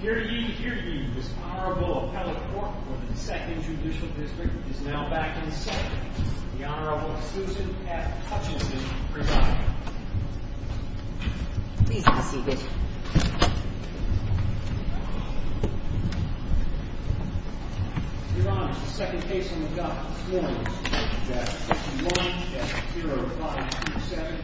Here to you, here to you, this Honorable Appellate Court for the 2nd Judicial District is now back in session. The Honorable Susan F. Hutchinson, presiding. Your Honor, the second case on the docket this morning, Judge 1, Judge 0527,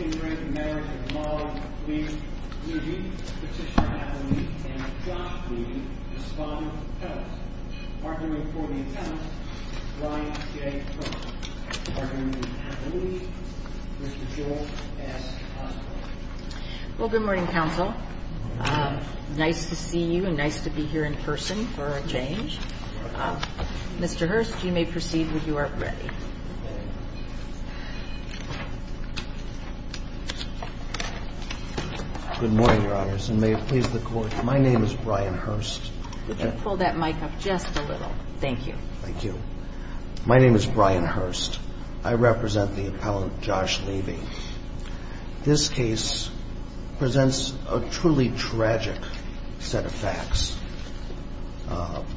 Ingrate, American Law, Levy, Petitioner Appellate, and Dropped Levy respond to the petition. Arguing for the attempt, Ryan J. Hurst. Arguing for the appellate, Mr. George S. Osborne. Well, good morning, Counsel. Nice to see you, and nice to be here in person for a change. Mr. Hurst, you may proceed when you are ready. Good morning, Your Honors, and may it please the Court, my name is Brian Hurst. Pull that mic up just a little. Thank you. Thank you. My name is Brian Hurst. I represent the appellate, Josh Levy. This case presents a truly tragic set of facts,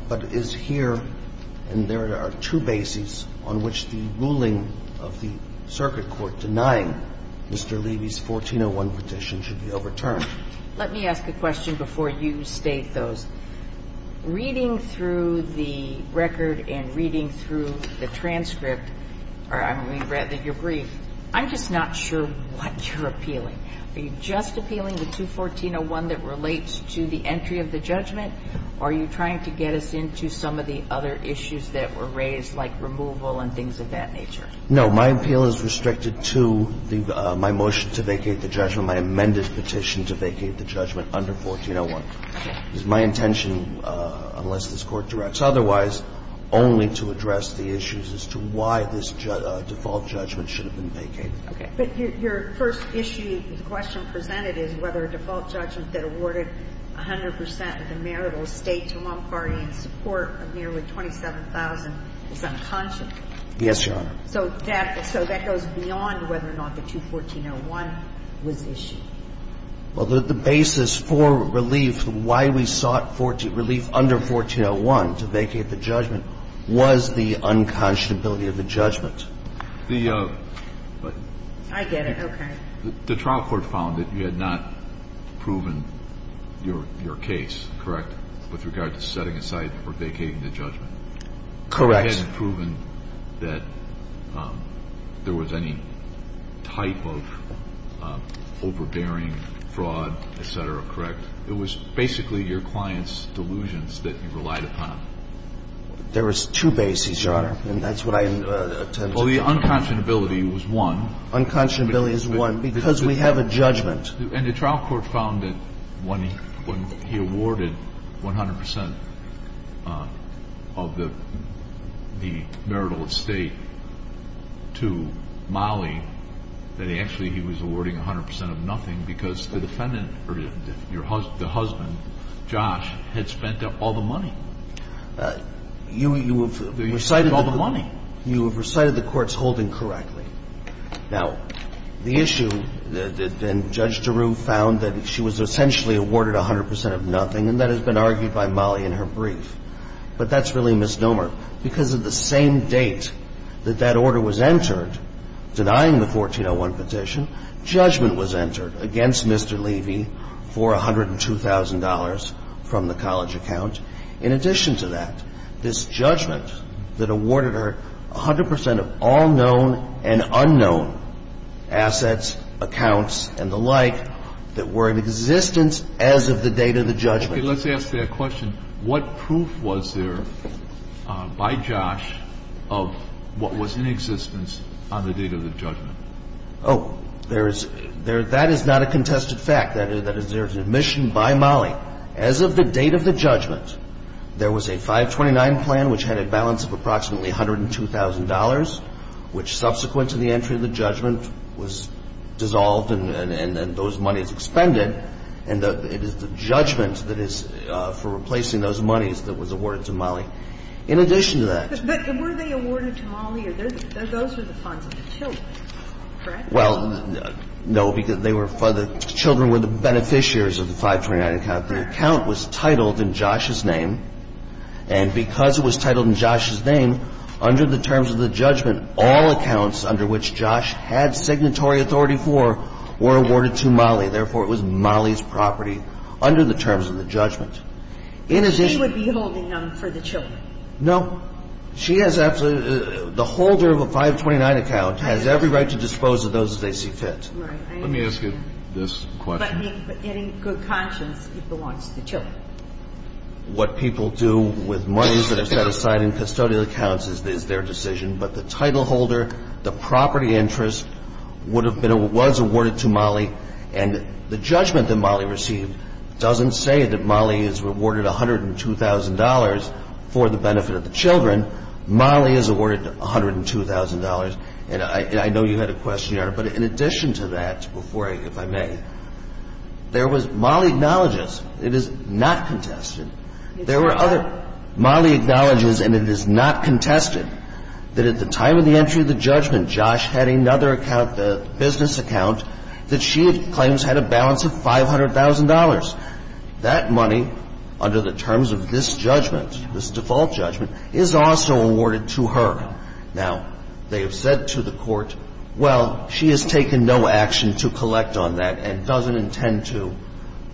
but is here, and there are two bases on which the ruling of the circuit court denying Mr. Levy's 1401 petition should be overturned. Let me ask a question before you state those. Reading through the record and reading through the transcript, or I mean, rather your brief, I'm just not sure what you're appealing. Are you just appealing the 21401 that relates to the entry of the judgment, or are you trying to get us into some of the other issues that were raised, like removal and things of that nature? No, my appeal is restricted to my motion to vacate the judgment, my amended petition to vacate the judgment under 1401. It's my intention, unless this Court directs otherwise, only to address the issues as to why this default judgment should have been vacated. Okay. But your first issue, the question presented is whether a default judgment that awarded 100 percent of the marital estate to one party in support of nearly 27,000 is unconscionable. Yes, Your Honor. So that goes beyond whether or not the 21401 was issued. Well, the basis for relief, why we sought relief under 1401 to vacate the judgment was the unconscionability of the judgment. I get it. Okay. The trial court found that you had not proven your case correct with regard to setting aside or vacating the judgment. Correct. You hadn't proven that there was any type of overbearing fraud, et cetera, correct? It was basically your client's delusions that you relied upon. There was two bases, Your Honor, and that's what I intended to say. Well, the unconscionability was one. Unconscionability is one because we have a judgment. And the trial court found that when he awarded 100 percent of the marital estate to Molly, that actually he was awarding 100 percent of nothing because the defendant or the husband, Josh, had spent all the money. You have recited the courts holding correctly. Now, the issue that then Judge DeRue found that she was essentially awarded 100 percent of nothing, and that has been argued by Molly in her brief. But that's really misnomer. Because of the same date that that order was entered, denying the 1401 petition, judgment was entered against Mr. Levy for $102,000 from the college account. In addition to that, this judgment that awarded her 100 percent of all known and unknown assets, accounts, and the like that were in existence as of the date of the judgment. Okay. Let's ask that question. What proof was there by Josh of what was in existence on the date of the judgment? Oh, there is – that is not a contested fact. The fact is that there is an admission by Molly as of the date of the judgment. There was a 529 plan which had a balance of approximately $102,000, which subsequent to the entry of the judgment was dissolved and those monies expended. And it is the judgment that is for replacing those monies that was awarded to Molly. In addition to that – But were they awarded to Molly? Those were the funds of the children, correct? Well, no, because they were – the children were the beneficiaries of the 529 account. The account was titled in Josh's name. And because it was titled in Josh's name, under the terms of the judgment, all accounts under which Josh had signatory authority for were awarded to Molly. Therefore, it was Molly's property under the terms of the judgment. It is a – She would be holding them for the children. No. She has absolutely – the holder of a 529 account has every right to dispose of those as they see fit. Right. Let me ask you this question. But any good conscience belongs to the children. What people do with monies that are set aside in custodial accounts is their decision. But the title holder, the property interest would have been – was awarded to Molly. And the judgment that Molly received doesn't say that Molly is rewarded $102,000 for the benefit of the children. Molly is awarded $102,000. And I know you had a question, Your Honor. But in addition to that, before I – if I may, there was – Molly acknowledges – it is not contested. There were other – Molly acknowledges, and it is not contested, that at the time of the entry of the judgment, Josh had another account, a business account, that she claims had a balance of $500,000. That money, under the terms of this judgment, this default judgment, is also awarded to her. Now, they have said to the Court, well, she has taken no action to collect on that and doesn't intend to.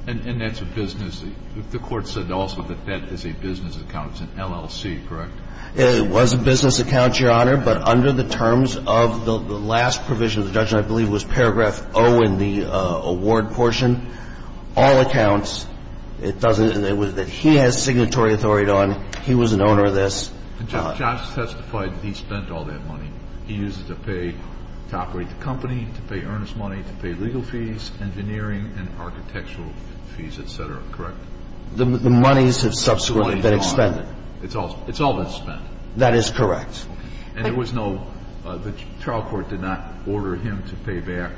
And that's a business – the Court said also that that is a business account. It's an LLC, correct? It was a business account, Your Honor, but under the terms of the last provision of the judgment, I believe it was paragraph O in the award portion, all accounts, it doesn't – it was – he has signatory authority on. He was an owner of this. But Josh testified that he spent all that money. He used it to pay – to operate the company, to pay earnest money, to pay legal fees, engineering and architectural fees, et cetera, correct? The monies have subsequently been expended. It's all – it's all been spent. That is correct. And there was no – the trial court did not order him to pay back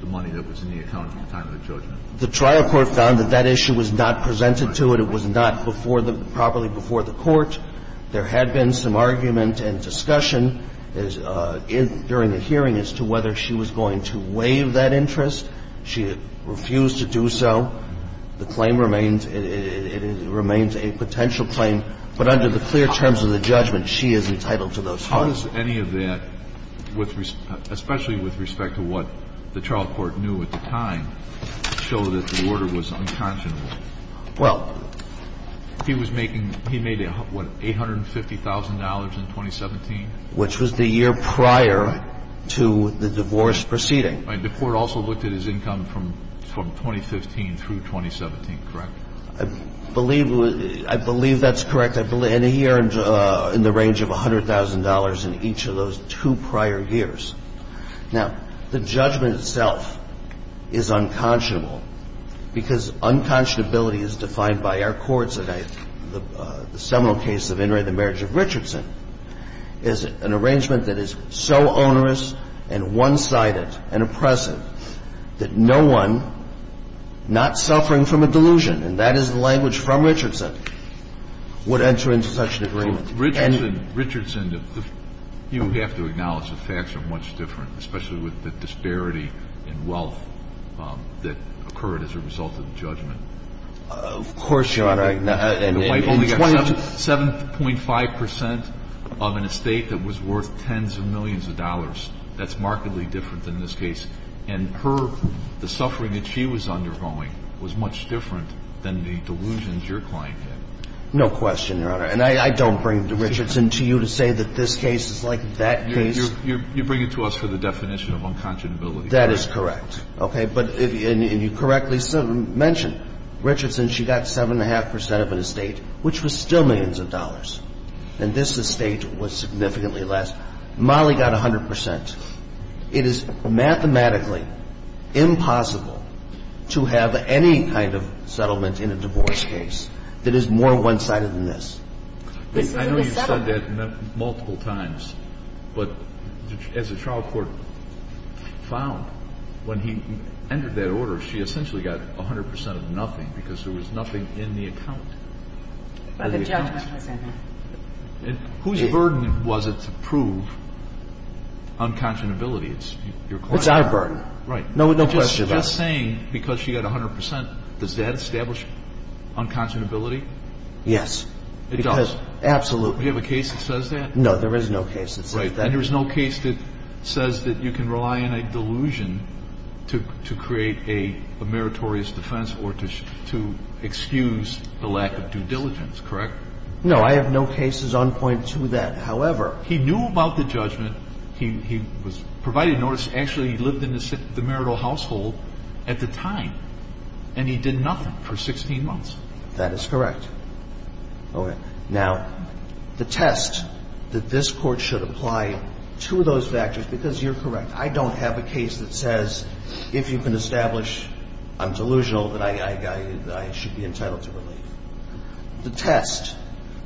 the money that was in the account at the time of the judgment? The trial court found that that issue was not presented to it. It was not before the – properly before the Court. There had been some argument and discussion during the hearing as to whether she was going to waive that interest. She refused to do so. The claim remains – it remains a potential claim. But under the clear terms of the judgment, she is entitled to those funds. How does any of that, with – especially with respect to what the trial court knew at the time, show that the order was unconscionable? Well – He was making – he made, what, $850,000 in 2017? Which was the year prior to the divorce proceeding. The court also looked at his income from – from 2015 through 2017, correct? I believe – I believe that's correct. And he earned in the range of $100,000 in each of those two prior years. Now, the judgment itself is unconscionable because unconscionability is defined by our courts. The case that I – the seminal case of In re the Marriage of Richardson is an arrangement that is so onerous and one-sided and oppressive that no one, not suffering from a delusion – and that is the language from Richardson – would enter into such an agreement. And – Well, Richardson – Richardson, you have to acknowledge the facts are much different, especially with the disparity in wealth that occurred as a result of the judgment. Of course, Your Honor. And the wife only got 7.5 percent of an estate that was worth tens of millions of dollars. That's markedly different than this case. And her – the suffering that she was undergoing was much different than the delusions your client had. No question, Your Honor. And I – I don't bring Richardson to you to say that this case is like that case. You bring it to us for the definition of unconscionability. That is correct. Okay. But if – and you correctly mentioned, Richardson, she got 7.5 percent of an estate which was still millions of dollars. And this estate was significantly less. Molly got 100 percent. It is mathematically impossible to have any kind of settlement in a divorce case that is more one-sided than this. This isn't a settlement. I know you've said that multiple times. But as the trial court found, when he entered that order, she essentially got 100 percent of nothing because there was nothing in the account. The judgment was in there. And whose burden was it to prove unconscionability? It's your client's. It's our burden. Right. No question about it. Just saying because she got 100 percent, does that establish unconscionability? Yes. It does. Absolutely. Do you have a case that says that? No. There is no case that says that. Right. And there is no case that says that you can rely on a delusion to create a meritorious defense or to excuse the lack of due diligence, correct? No. I have no cases on point to that. However, he knew about the judgment. He was provided notice. Actually, he lived in the marital household at the time, and he did nothing for 16 months. That is correct. Okay. Now, the test that this Court should apply to those factors, because you're correct, I don't have a case that says if you can establish I'm delusional that I should be entitled to relief. The test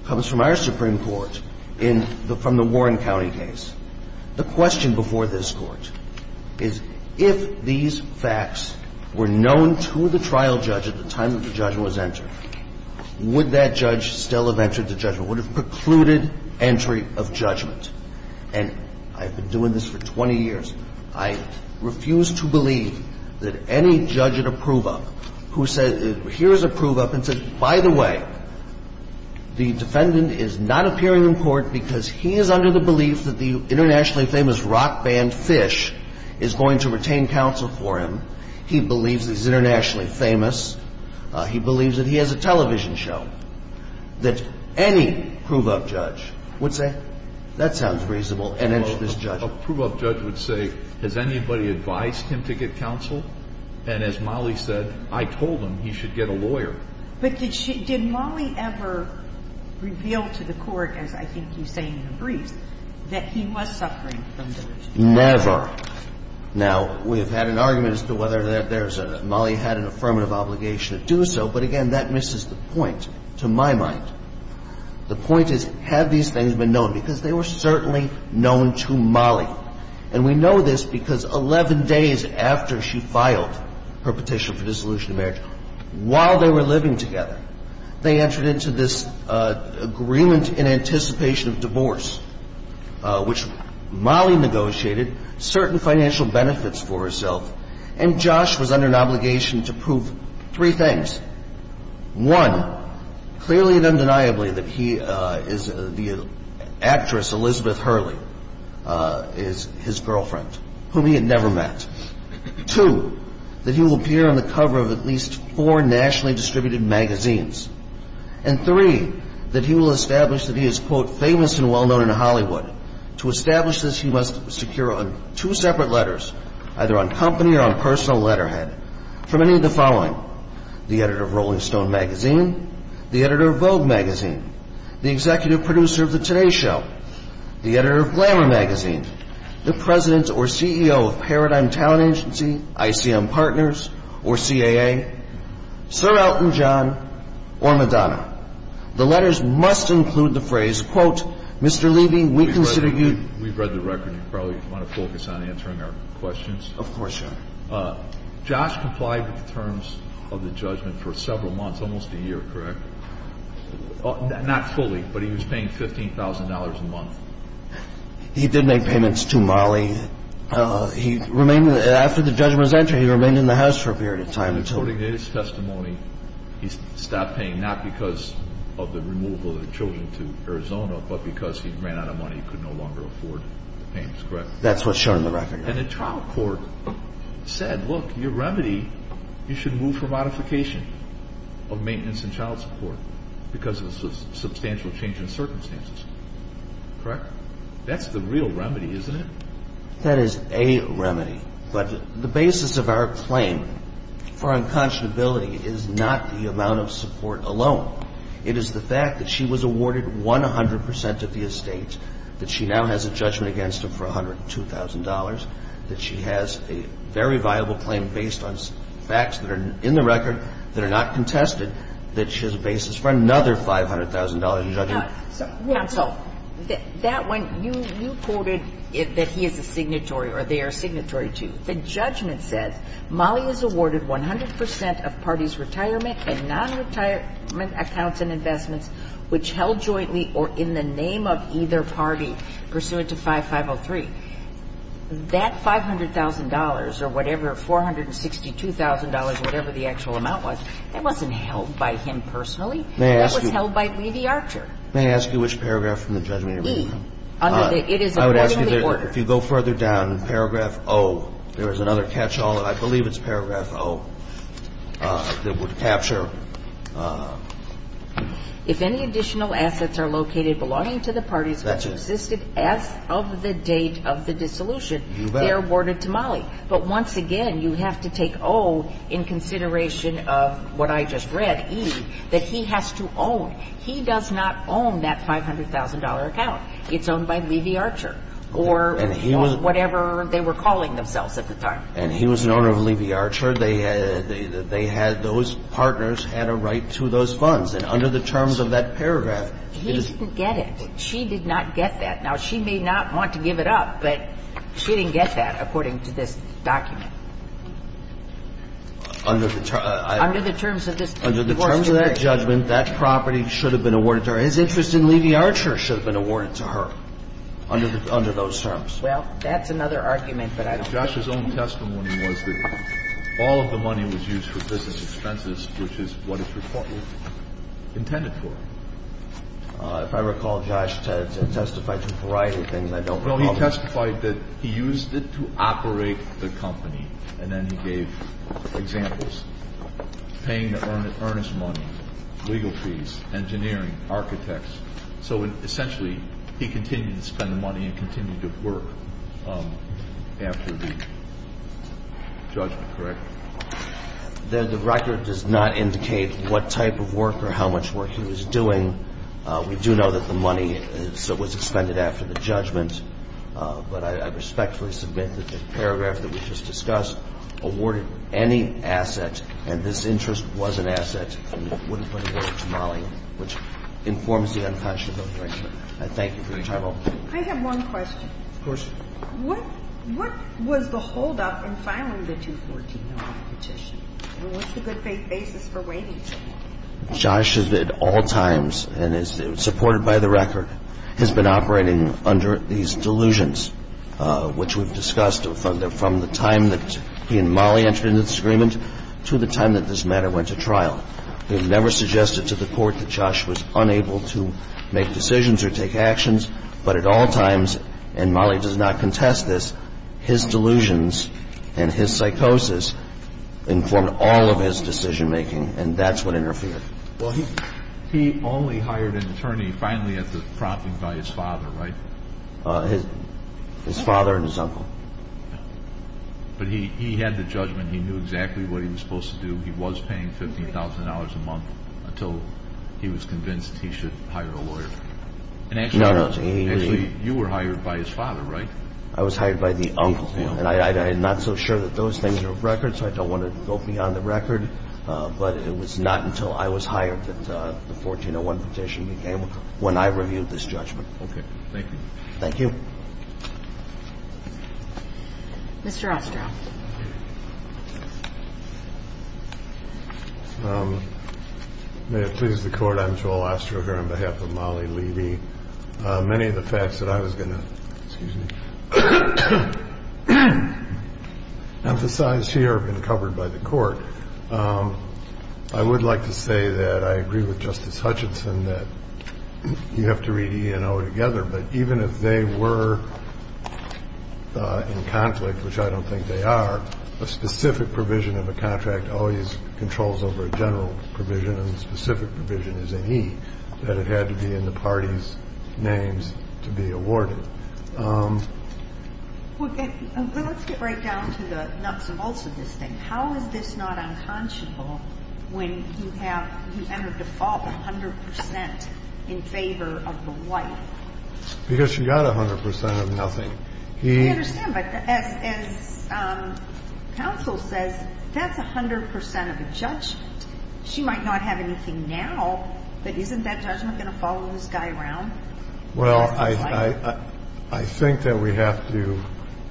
comes from our Supreme Court in the – from the Warren County case. The question before this Court is if these facts were known to the trial judge at the time that the judgment was entered, would that judge still have entered the judgment? Would it have precluded entry of judgment? And I've been doing this for 20 years. I refuse to believe that any judge at a prove-up who said, here is a prove-up, and said, by the way, the defendant is not appearing in court because he is under the belief that the internationally famous rock band Phish is going to retain counsel for him. He believes he's internationally famous. He believes that he has a television show, that any prove-up judge would say, that sounds reasonable, and enter this judgment. A prove-up judge would say, has anybody advised him to get counsel? And as Molly said, I told him he should get a lawyer. But did she – did Molly ever reveal to the Court, as I think you say in the briefs, that he was suffering from delusions? Never. Now, we have had an argument as to whether there's a – Molly had an affirmative obligation to do so, but again, that misses the point, to my mind. The point is, have these things been known? Because they were certainly known to Molly. And we know this because 11 days after she filed her petition for dissolution of marriage, while they were living together, they entered into this agreement in anticipation of divorce, which Molly negotiated certain financial benefits for herself, and Josh was under an obligation to prove three things. One, clearly and undeniably that he is – the actress Elizabeth Hurley is his girlfriend, whom he had never met. Two, that he will appear on the cover of at least four nationally distributed And three, that he will establish that he is, quote, famous and well-known in Hollywood. To establish this, he must secure two separate letters, either on company or on personal letterhead, from any of the following. The editor of Rolling Stone Magazine, the editor of Vogue Magazine, the executive producer of the Today Show, the editor of Glamour Magazine, the president or CEO of Paradigm Town Agency, ICM Partners, or CAA, Sir Elton John or Madonna. The letters must include the phrase, quote, Mr. Levy, we consider you We've read the record. You probably want to focus on answering our questions. Of course, Your Honor. Josh complied with the terms of the judgment for several months, almost a year, correct? Not fully, but he was paying $15,000 a month. He did make payments to Molly. According to his testimony, he stopped paying, not because of the removal of the children to Arizona, but because he ran out of money. He could no longer afford the payments, correct? That's what's shown in the record. And the trial court said, look, your remedy, you should move for modification of maintenance and child support because of the substantial change in circumstances, correct? That's the real remedy, isn't it? That is a remedy. But the basis of our claim for unconscionability is not the amount of support alone. It is the fact that she was awarded 100 percent of the estate, that she now has a judgment against him for $102,000, that she has a very viable claim based on facts that are in the record that are not contested, that she has a basis for another $500,000 in judgment. Now, counsel, that one, you quoted that he is a signatory or they are a signatory to. The judgment says Molly is awarded 100 percent of parties' retirement and nonretirement accounts and investments which held jointly or in the name of either party pursuant to 5503. That $500,000 or whatever, $462,000, whatever the actual amount was, that wasn't held by him personally. They asked you. It was held by Levi Archer. May I ask you which paragraph from the judgment you're referring to? E. Under the --" it is awarded to the order. I would ask you, if you go further down, in paragraph O, there is another catch-all, and I believe it's paragraph O, that would capture --" If any additional assets are located belonging to the parties which existed as of the date of the dissolution, they are awarded to Molly. But once again, you have to take O in consideration of what I just read, E, that he has to own. He does not own that $500,000 account. It's owned by Levi Archer or whatever they were calling themselves at the time. And he was an owner of Levi Archer. They had those partners had a right to those funds. And under the terms of that paragraph, it is --" He didn't get it. She did not get that. Now, she may not want to give it up, but she didn't get that, according to this document. Under the terms of this --" Under the terms of that judgment, that property should have been awarded to her. His interest in Levi Archer should have been awarded to her under those terms. Well, that's another argument, but I don't think we can use it. Josh's own testimony was that all of the money was used for business expenses, which is what it's reportedly intended for. If I recall, Josh testified to a variety of things. I don't recall all of them. Well, he testified that he used it to operate the company, and then he gave examples, paying the earnest money, legal fees, engineering, architects. So, essentially, he continued to spend the money and continued to work after the judgment, correct? The record does not indicate what type of work or how much work he was doing. We do know that the money was expended after the judgment, but I respectfully submit that the paragraph that we just discussed awarded any asset, and this interest was an asset, and wouldn't have been awarded to Molly, which informs the unconscionable judgment. I thank you for your time. I have one question. Of course. What was the holdup in filing the 214-09 petition? And what's the good faith basis for waiting? Josh has at all times, and is supported by the record, has been operating under these delusions, which we've discussed from the time that he and Molly entered into this agreement to the time that this matter went to trial. We've never suggested to the Court that Josh was unable to make decisions or take actions, but at all times, and Molly does not contest this, his delusions and his psychosis informed all of his decision-making, and that's what interfered. Well, he only hired an attorney, finally, at the prompting by his father, right? His father and his uncle. But he had the judgment. He knew exactly what he was supposed to do. He was paying $15,000 a month until he was convinced he should hire a lawyer. No, no. Actually, you were hired by his father, right? I was hired by the uncle, and I'm not so sure that those things are record, so I don't want to go beyond the record, but it was not until I was hired that the 1401 petition became, when I reviewed this judgment. Thank you. Thank you. Mr. Ostrow. May it please the Court. I'm Joel Ostrow here on behalf of Molly Levy. Many of the facts that I was going to emphasize here have been covered by the Court. I would like to say that I agree with Justice Hutchinson that you have to read E&O together, but even if they were in conflict, which I don't think they are, a specific provision of a contract always controls over a general provision, and the specific provision is in E that it had to be in the party's names to be awarded. Well, let's get right down to the nuts and bolts of this thing. The question is, how is this not unconscionable when you have, you have a default 100 percent in favor of the wife? Because she got 100 percent of nothing. I understand, but as counsel says, that's 100 percent of a judgment. She might not have anything now, but isn't that judgment going to follow this guy around? Well, I think that we have to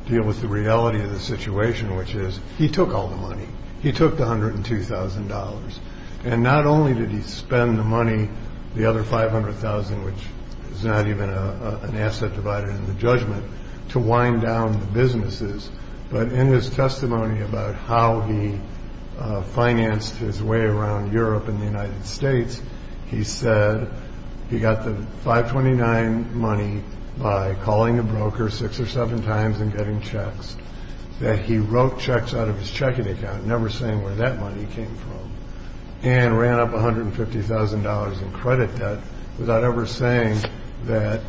deal with the reality of the situation, which is he took all the money. He took the $102,000, and not only did he spend the money, the other $500,000, which is not even an asset divided in the judgment, to wind down the businesses, but in his testimony about how he financed his way around Europe and the United States, he said that he got the 529 money by calling a broker six or seven times and getting checks, that he wrote checks out of his checking account, never saying where that money came from, and ran up $150,000 in credit debt without ever saying that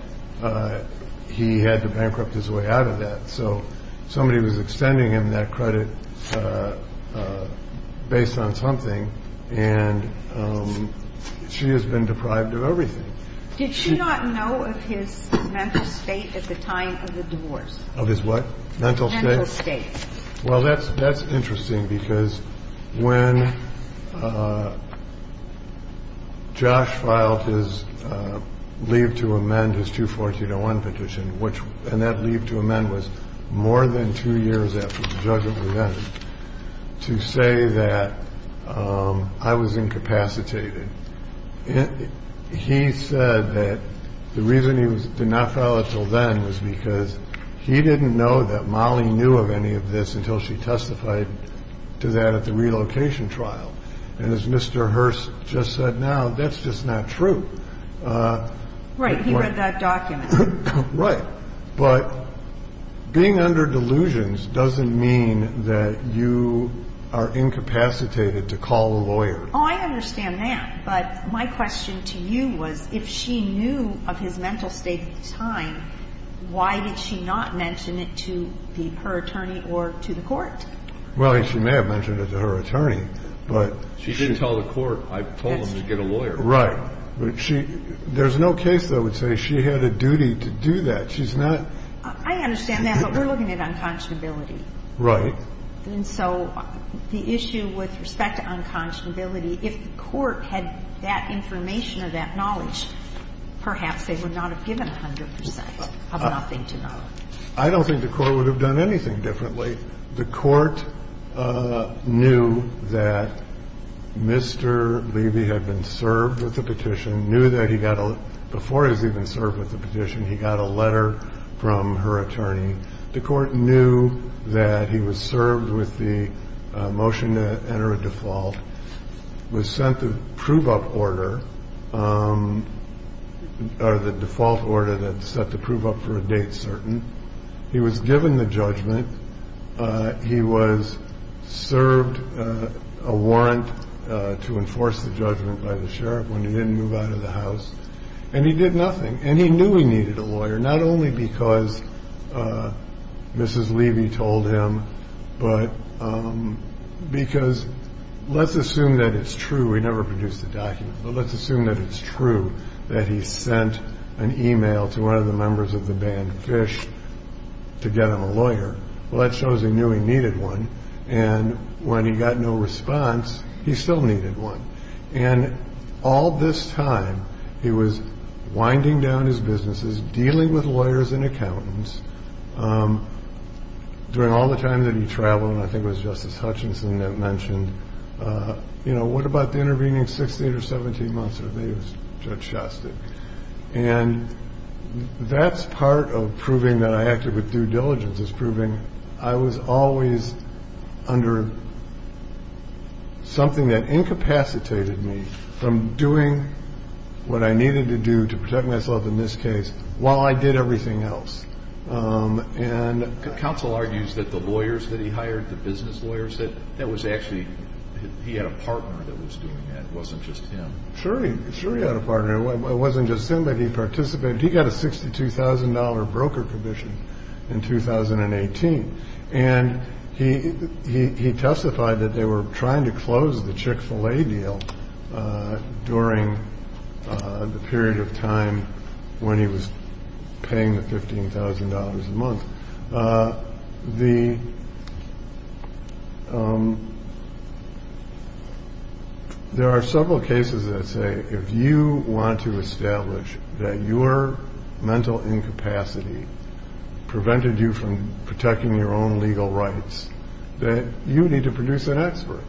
he had to bankrupt his way out of that. So somebody was extending him that credit based on something, and she has been deprived of everything. Did she not know of his mental state at the time of the divorce? Of his what? Mental state? Mental state. Well, that's interesting, because when Josh filed his leave to amend his 214-01 petition, and that leave to amend was more than two years after the judgment was presented, to say that I was incapacitated, he said that the reason he did not file it until then was because he didn't know that Molly knew of any of this until she testified to that at the relocation trial. And as Mr. Hurst just said now, that's just not true. Right. He read that document. Right. But being under delusions doesn't mean that you are incapacitated to call a lawyer. Oh, I understand that. But my question to you was, if she knew of his mental state at the time, why did she not mention it to her attorney or to the court? Well, she may have mentioned it to her attorney. She didn't tell the court. I told them to get a lawyer. Right. But she – there's no case, though, that would say she had a duty to do that. She's not – I understand that, but we're looking at unconscionability. Right. And so the issue with respect to unconscionability, if the court had that information or that knowledge, perhaps they would not have given 100 percent of nothing to know. I don't think the court would have done anything differently. The court knew that Mr. Levy had been served with the petition, knew that he got a – before he was even served with the petition, he got a letter from her attorney. The court knew that he was served with the motion to enter a default, was sent the prove-up order, or the default order that set the prove-up for a date certain. He was given the judgment. He was served a warrant to enforce the judgment by the sheriff when he didn't move out of the house. And he did nothing. And he knew he needed a lawyer, not only because Mrs. Levy told him, but because – let's assume that it's true. We never produced the document, but let's assume that it's true, that he sent an email to one of the members of the band Phish to get him a lawyer. Well, that shows he knew he needed one. And when he got no response, he still needed one. And all this time, he was winding down his businesses, dealing with lawyers and accountants. During all the time that he traveled, and I think it was Justice Hutchinson that mentioned, you know, what about the intervening 16 or 17 months? I think it was Judge Shostak. And that's part of proving that I acted with due diligence, is proving I was always under something that incapacitated me from doing what I needed to do to protect myself in this case while I did everything else. Counsel argues that the lawyers that he hired, the business lawyers, that was actually – he had a partner that was doing that. It wasn't just him. Sure, he had a partner. It wasn't just him, but he participated. He got a $62,000 broker commission in 2018. And he testified that they were trying to close the Chick-fil-A deal during the period of time when he was paying the $15,000 a month. There are several cases that say if you want to establish that your mental incapacity prevented you from protecting your own legal rights, that you need to produce an expert.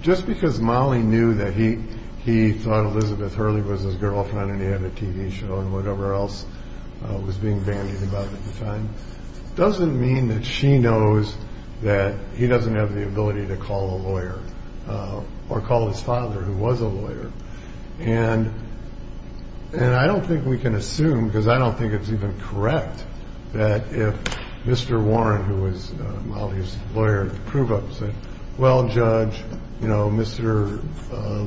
Just because Molly knew that he thought Elizabeth Hurley was his girlfriend and he had a TV show and whatever else was being bandied about at the time doesn't mean that she knows that he doesn't have the ability to call a lawyer or call his father, who was a lawyer. And I don't think we can assume, because I don't think it's even correct, that if Mr. Warren, who was Molly's lawyer, proved up and said, well, Judge, you know, Mr.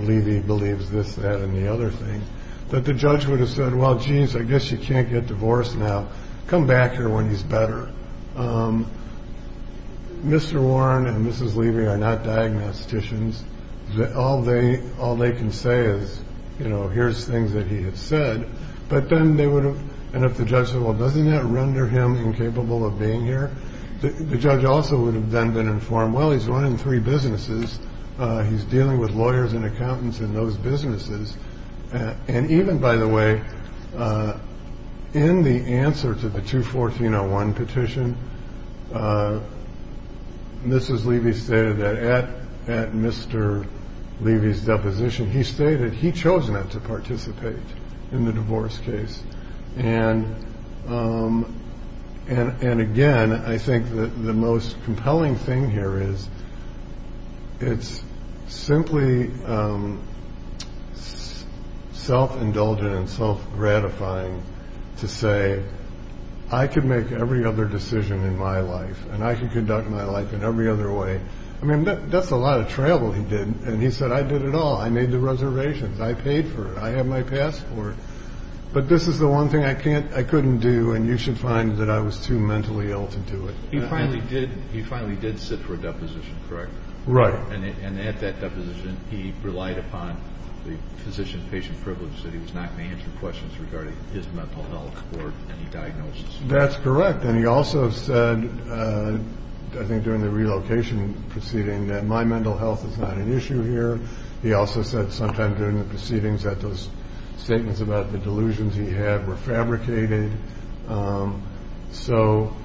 Levy believes this, that, and the other thing, that the judge would have said, well, geez, I guess you can't get divorced now. Come back here when he's better. Mr. Warren and Mrs. Levy are not diagnosticians. All they can say is, you know, here's things that he has said. But then they would have, and if the judge said, well, doesn't that render him incapable of being here, the judge also would have then been informed, well, he's running three businesses. He's dealing with lawyers and accountants in those businesses. And even, by the way, in the answer to the 214-01 petition, Mrs. Levy stated that at Mr. Levy's deposition, he stated he chose not to participate in the divorce case. And again, I think the most compelling thing here is, it's simply self-indulgent and self-gratifying to say, I can make every other decision in my life, and I can conduct my life in every other way. I mean, that's a lot of travel he did. And he said, I did it all. I made the reservations. I paid for it. I have my passport. But this is the one thing I couldn't do, and you should find that I was too mentally ill to do it. He finally did sit for a deposition, correct? Right. And at that deposition, he relied upon the physician-patient privilege that he was not going to answer questions regarding his mental health or any diagnosis. That's correct. And he also said, I think during the relocation proceeding, that my mental health is not an issue here. He also said sometime during the proceedings that those statements about the delusions he had were fabricated. So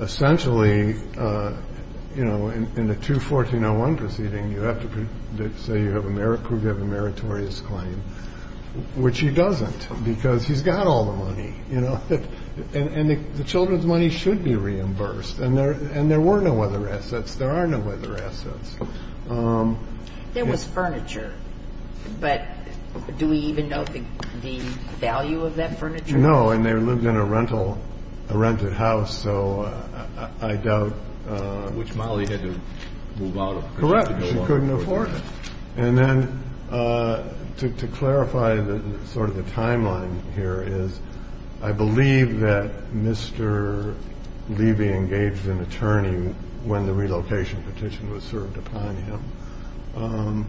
essentially, you know, in the 2-1401 proceeding, you have to say you have a meritorious claim, which he doesn't because he's got all the money, you know. And the children's money should be reimbursed. And there were no other assets. There are no other assets. There was furniture. But do we even know the value of that furniture? No. And they lived in a rented house, so I doubt. Which Molly had to move out of. Correct. She couldn't afford it. And then to clarify sort of the timeline here is I believe that Mr. Levy engaged an attorney when the relocation petition was served upon him.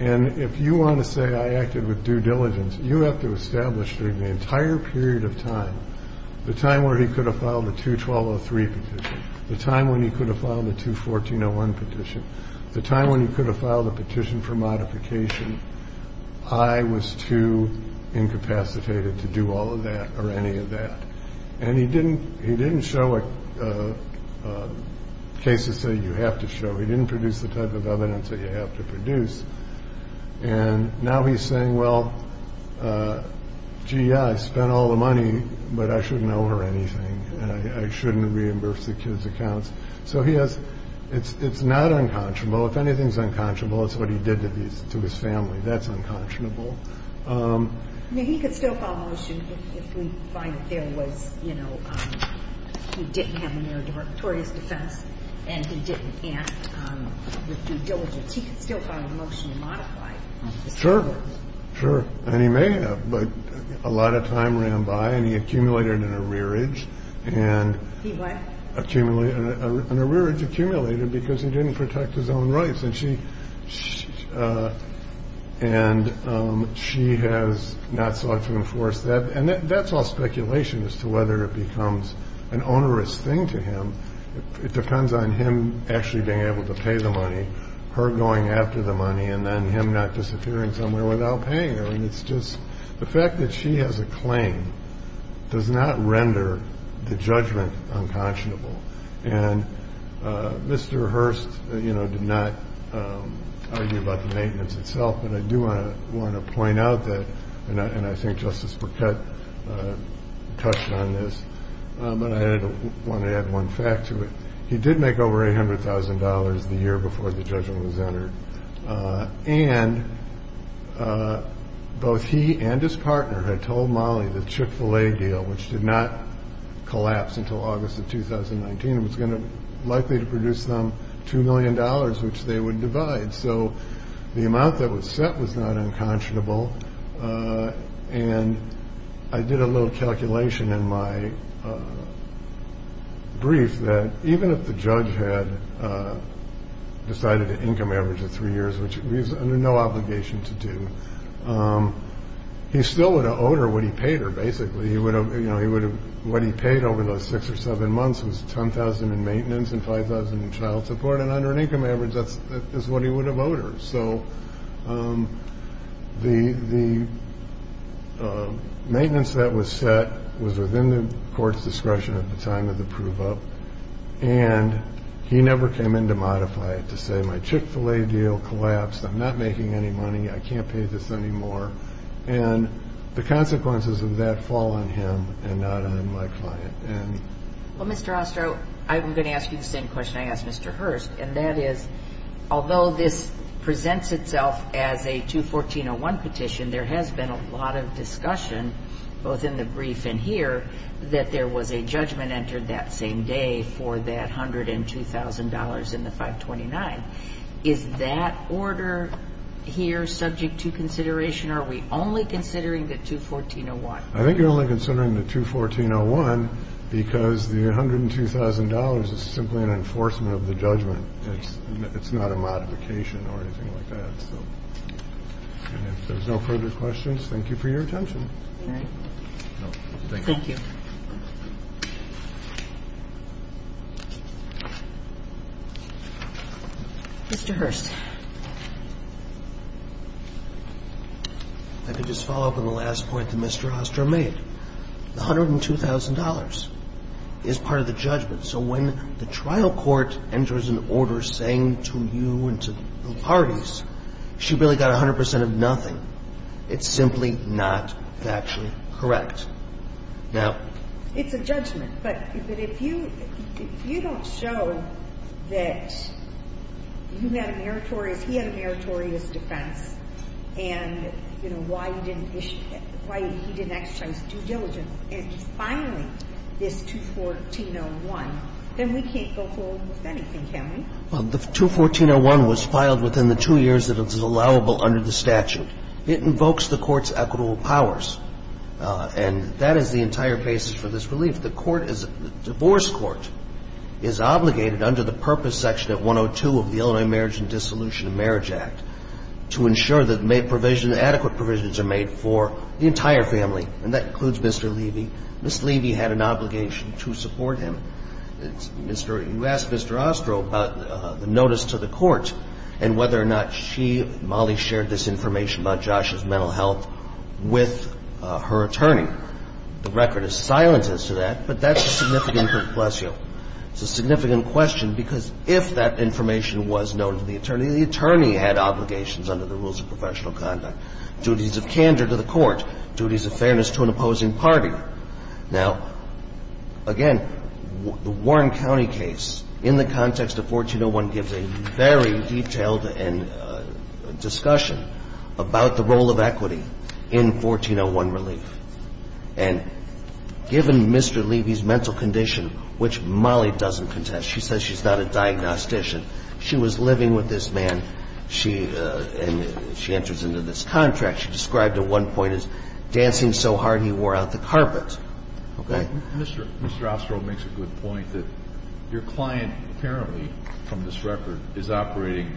And if you want to say I acted with due diligence, you have to establish during the entire period of time, the time where he could have filed the 2-1203 petition, the time when he could have filed the 2-1401 petition, the time when he could have filed a petition for modification. I was too incapacitated to do all of that or any of that. And he didn't he didn't show a case to say you have to show. He didn't produce the type of evidence that you have to produce. And now he's saying, well, gee, I spent all the money, but I shouldn't owe her anything. I shouldn't reimburse the kids accounts. So he has. It's not unconscionable. If anything's unconscionable, it's what he did to his family. That's unconscionable. He could still file a motion. If we find that there was, you know, he didn't have an error toward his defense and he didn't act with due diligence. He could still file a motion to modify. Sure. Sure. And he may have. But a lot of time ran by and he accumulated in a rearage. And he accumulated in a rearage accumulated because he didn't protect his own rights. And she and she has not sought to enforce that. And that's all speculation as to whether it becomes an onerous thing to him. It depends on him actually being able to pay the money, her going after the money and then him not disappearing somewhere without paying. And it's just the fact that she has a claim does not render the judgment unconscionable. And Mr. Hearst, you know, did not argue about the maintenance itself. And I do want to want to point out that. And I think Justice Piquette touched on this. But I want to add one fact to it. He did make over $800,000 the year before the judgment was entered. And both he and his partner had told Molly that Chick-fil-A deal, which did not collapse until August of 2019, was going to likely to produce them two million dollars, which they would divide. So the amount that was set was not unconscionable. And I did a little calculation in my brief that even if the judge had decided an income average of three years, which was under no obligation to do, he still would have owed her what he paid her. Basically, he would have you know, he would have what he paid over those six or seven months was 10,000 in maintenance and 5,000 in child support. And under an income average, that's what he would have owed her. So the maintenance that was set was within the court's discretion at the time of the prove-up. And he never came in to modify it to say my Chick-fil-A deal collapsed. I'm not making any money. I can't pay this anymore. And the consequences of that fall on him and not on my client. Well, Mr. Ostrow, I'm going to ask you the same question I asked Mr. Hurst. And that is, although this presents itself as a 214-01 petition, there has been a lot of discussion, both in the brief and here, that there was a judgment entered that same day for that $102,000 in the 529. Is that order here subject to consideration? Are we only considering the 214-01? I think you're only considering the 214-01 because the $102,000 is simply an enforcement of the judgment. It's not a modification or anything like that. So if there's no further questions, thank you for your attention. All right. Thank you. Thank you. Mr. Hurst. If I could just follow up on the last point that Mr. Ostrow made. The $102,000 is part of the judgment. So when the trial court enters an order saying to you and to the parties, she really got 100 percent of nothing. It's simply not factually correct. It's a judgment. But if you don't show that you had a meritorious, he had a meritorious defense and, you know, why he didn't exercise due diligence in filing this 214-01, then we can't go forward with anything, can we? Well, the 214-01 was filed within the two years that it was allowable under the statute. It invokes the court's equitable powers. And that is the entire basis for this relief. The court is the divorce court is obligated under the purpose section of 102 of the Illinois Marriage and Dissolution of Marriage Act to ensure that provisions, adequate provisions are made for the entire family. And that includes Mr. Levy. Ms. Levy had an obligation to support him. You asked Mr. Ostrow about the notice to the court and whether or not she, Molly, shared this information about Josh's mental health with her attorney. The record is silent as to that, but that's a significant question. It's a significant question because if that information was known to the attorney, the attorney had obligations under the rules of professional conduct, duties of candor to the court, duties of fairness to an opposing party. Now, again, the Warren County case, in the context of 1401, gives a very detailed discussion about the role of equity in 1401 relief. And given Mr. Levy's mental condition, which Molly doesn't contest, she says she's not a diagnostician. She was living with this man. She enters into this contract. She described at one point his dancing so hard he wore out the carpet. Okay? Mr. Ostrow makes a good point that your client apparently, from this record, is operating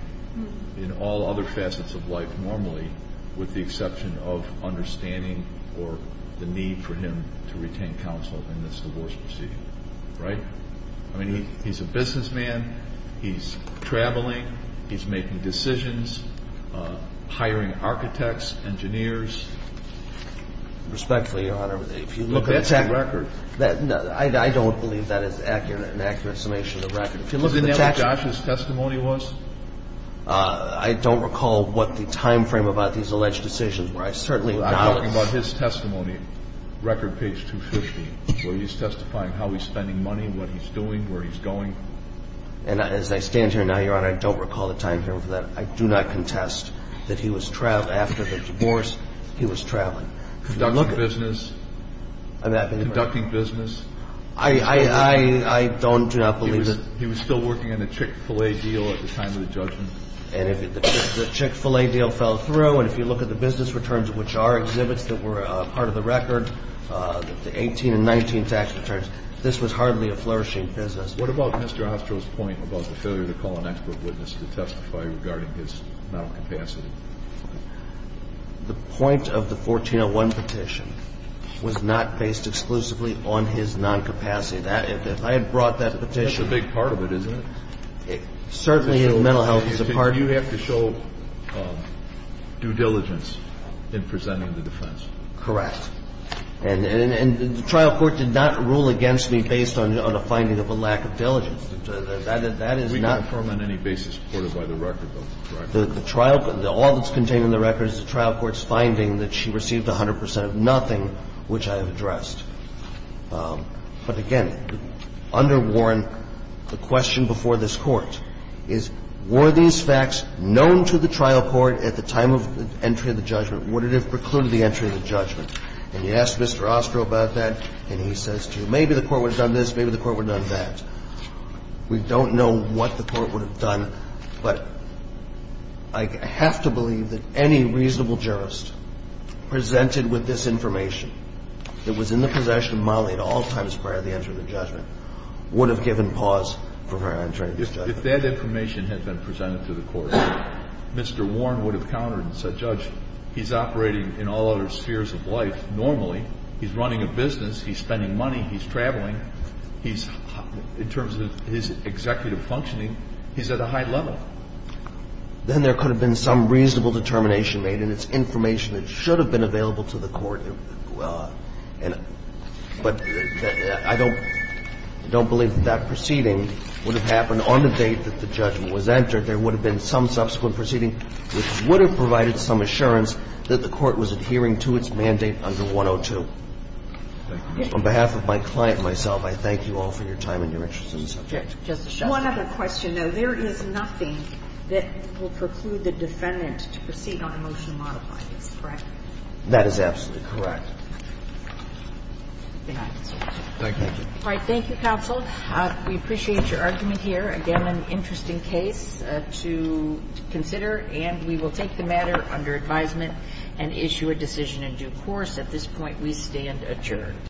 in all other facets of life normally with the exception of understanding or the need for him to retain counsel in this divorce proceeding. Right? I mean, he's a businessman. He's traveling. He's making decisions, hiring architects. Engineers. Respectfully, Your Honor, if you look at the text. But that's the record. I don't believe that is accurate, an accurate summation of the record. If you look at the text. Isn't that what Josh's testimony was? I don't recall what the timeframe about these alleged decisions were. I certainly acknowledge. I'm talking about his testimony, record page 250, where he's testifying how he's spending money, what he's doing, where he's going. And as I stand here now, Your Honor, I don't recall the timeframe for that. I do not contest that he was traveling. After the divorce, he was traveling. Conducting business. I'm happy to verify. Conducting business. I don't do not believe that. He was still working on the Chick-fil-A deal at the time of the judgment. And if the Chick-fil-A deal fell through, and if you look at the business returns, which are exhibits that were part of the record, the 18 and 19 tax returns, this was hardly a flourishing business. What about Mr. Ostro's point about the failure to call an expert witness to testify regarding his noncapacity? The point of the 1401 petition was not based exclusively on his noncapacity. If I had brought that petition. That's a big part of it, isn't it? Certainly mental health is a part of it. You have to show due diligence in presenting the defense. Correct. And the trial court did not rule against me based on a finding of a lack of diligence. That is not. We can confirm on any basis reported by the record, though, correct? The trial, all that's contained in the record is the trial court's finding that she received 100 percent of nothing, which I have addressed. But again, under Warren, the question before this Court is, were these facts known to the trial court at the time of entry of the judgment? Would it have precluded the entry of the judgment? And you ask Mr. Ostro about that, and he says to you, maybe the court would have done this, maybe the court would have done that. We don't know what the court would have done, but I have to believe that any reasonable jurist presented with this information that was in the possession of Molly at all times prior to the entry of the judgment would have given pause for her entry of the judgment. If that information had been presented to the court, Mr. Warren would have countered and said, Judge, he's operating in all other spheres of life normally. He's running a business. He's spending money. He's traveling. He's, in terms of his executive functioning, he's at a high level. Then there could have been some reasonable determination made, and it's information that should have been available to the court. But I don't believe that that proceeding would have happened on the date that the judgment was entered. I believe that there would have been some subsequent proceeding which would have provided some assurance that the court was adhering to its mandate under 102. On behalf of my client and myself, I thank you all for your time and your interest in the subject. One other question, though. There is nothing that will preclude the defendant to proceed on a motion to modify this, correct? That is absolutely correct. Thank you. All right. Thank you, counsel. We appreciate your argument here. Again, an interesting case to consider. And we will take the matter under advisement and issue a decision in due course. At this point, we stand adjourned.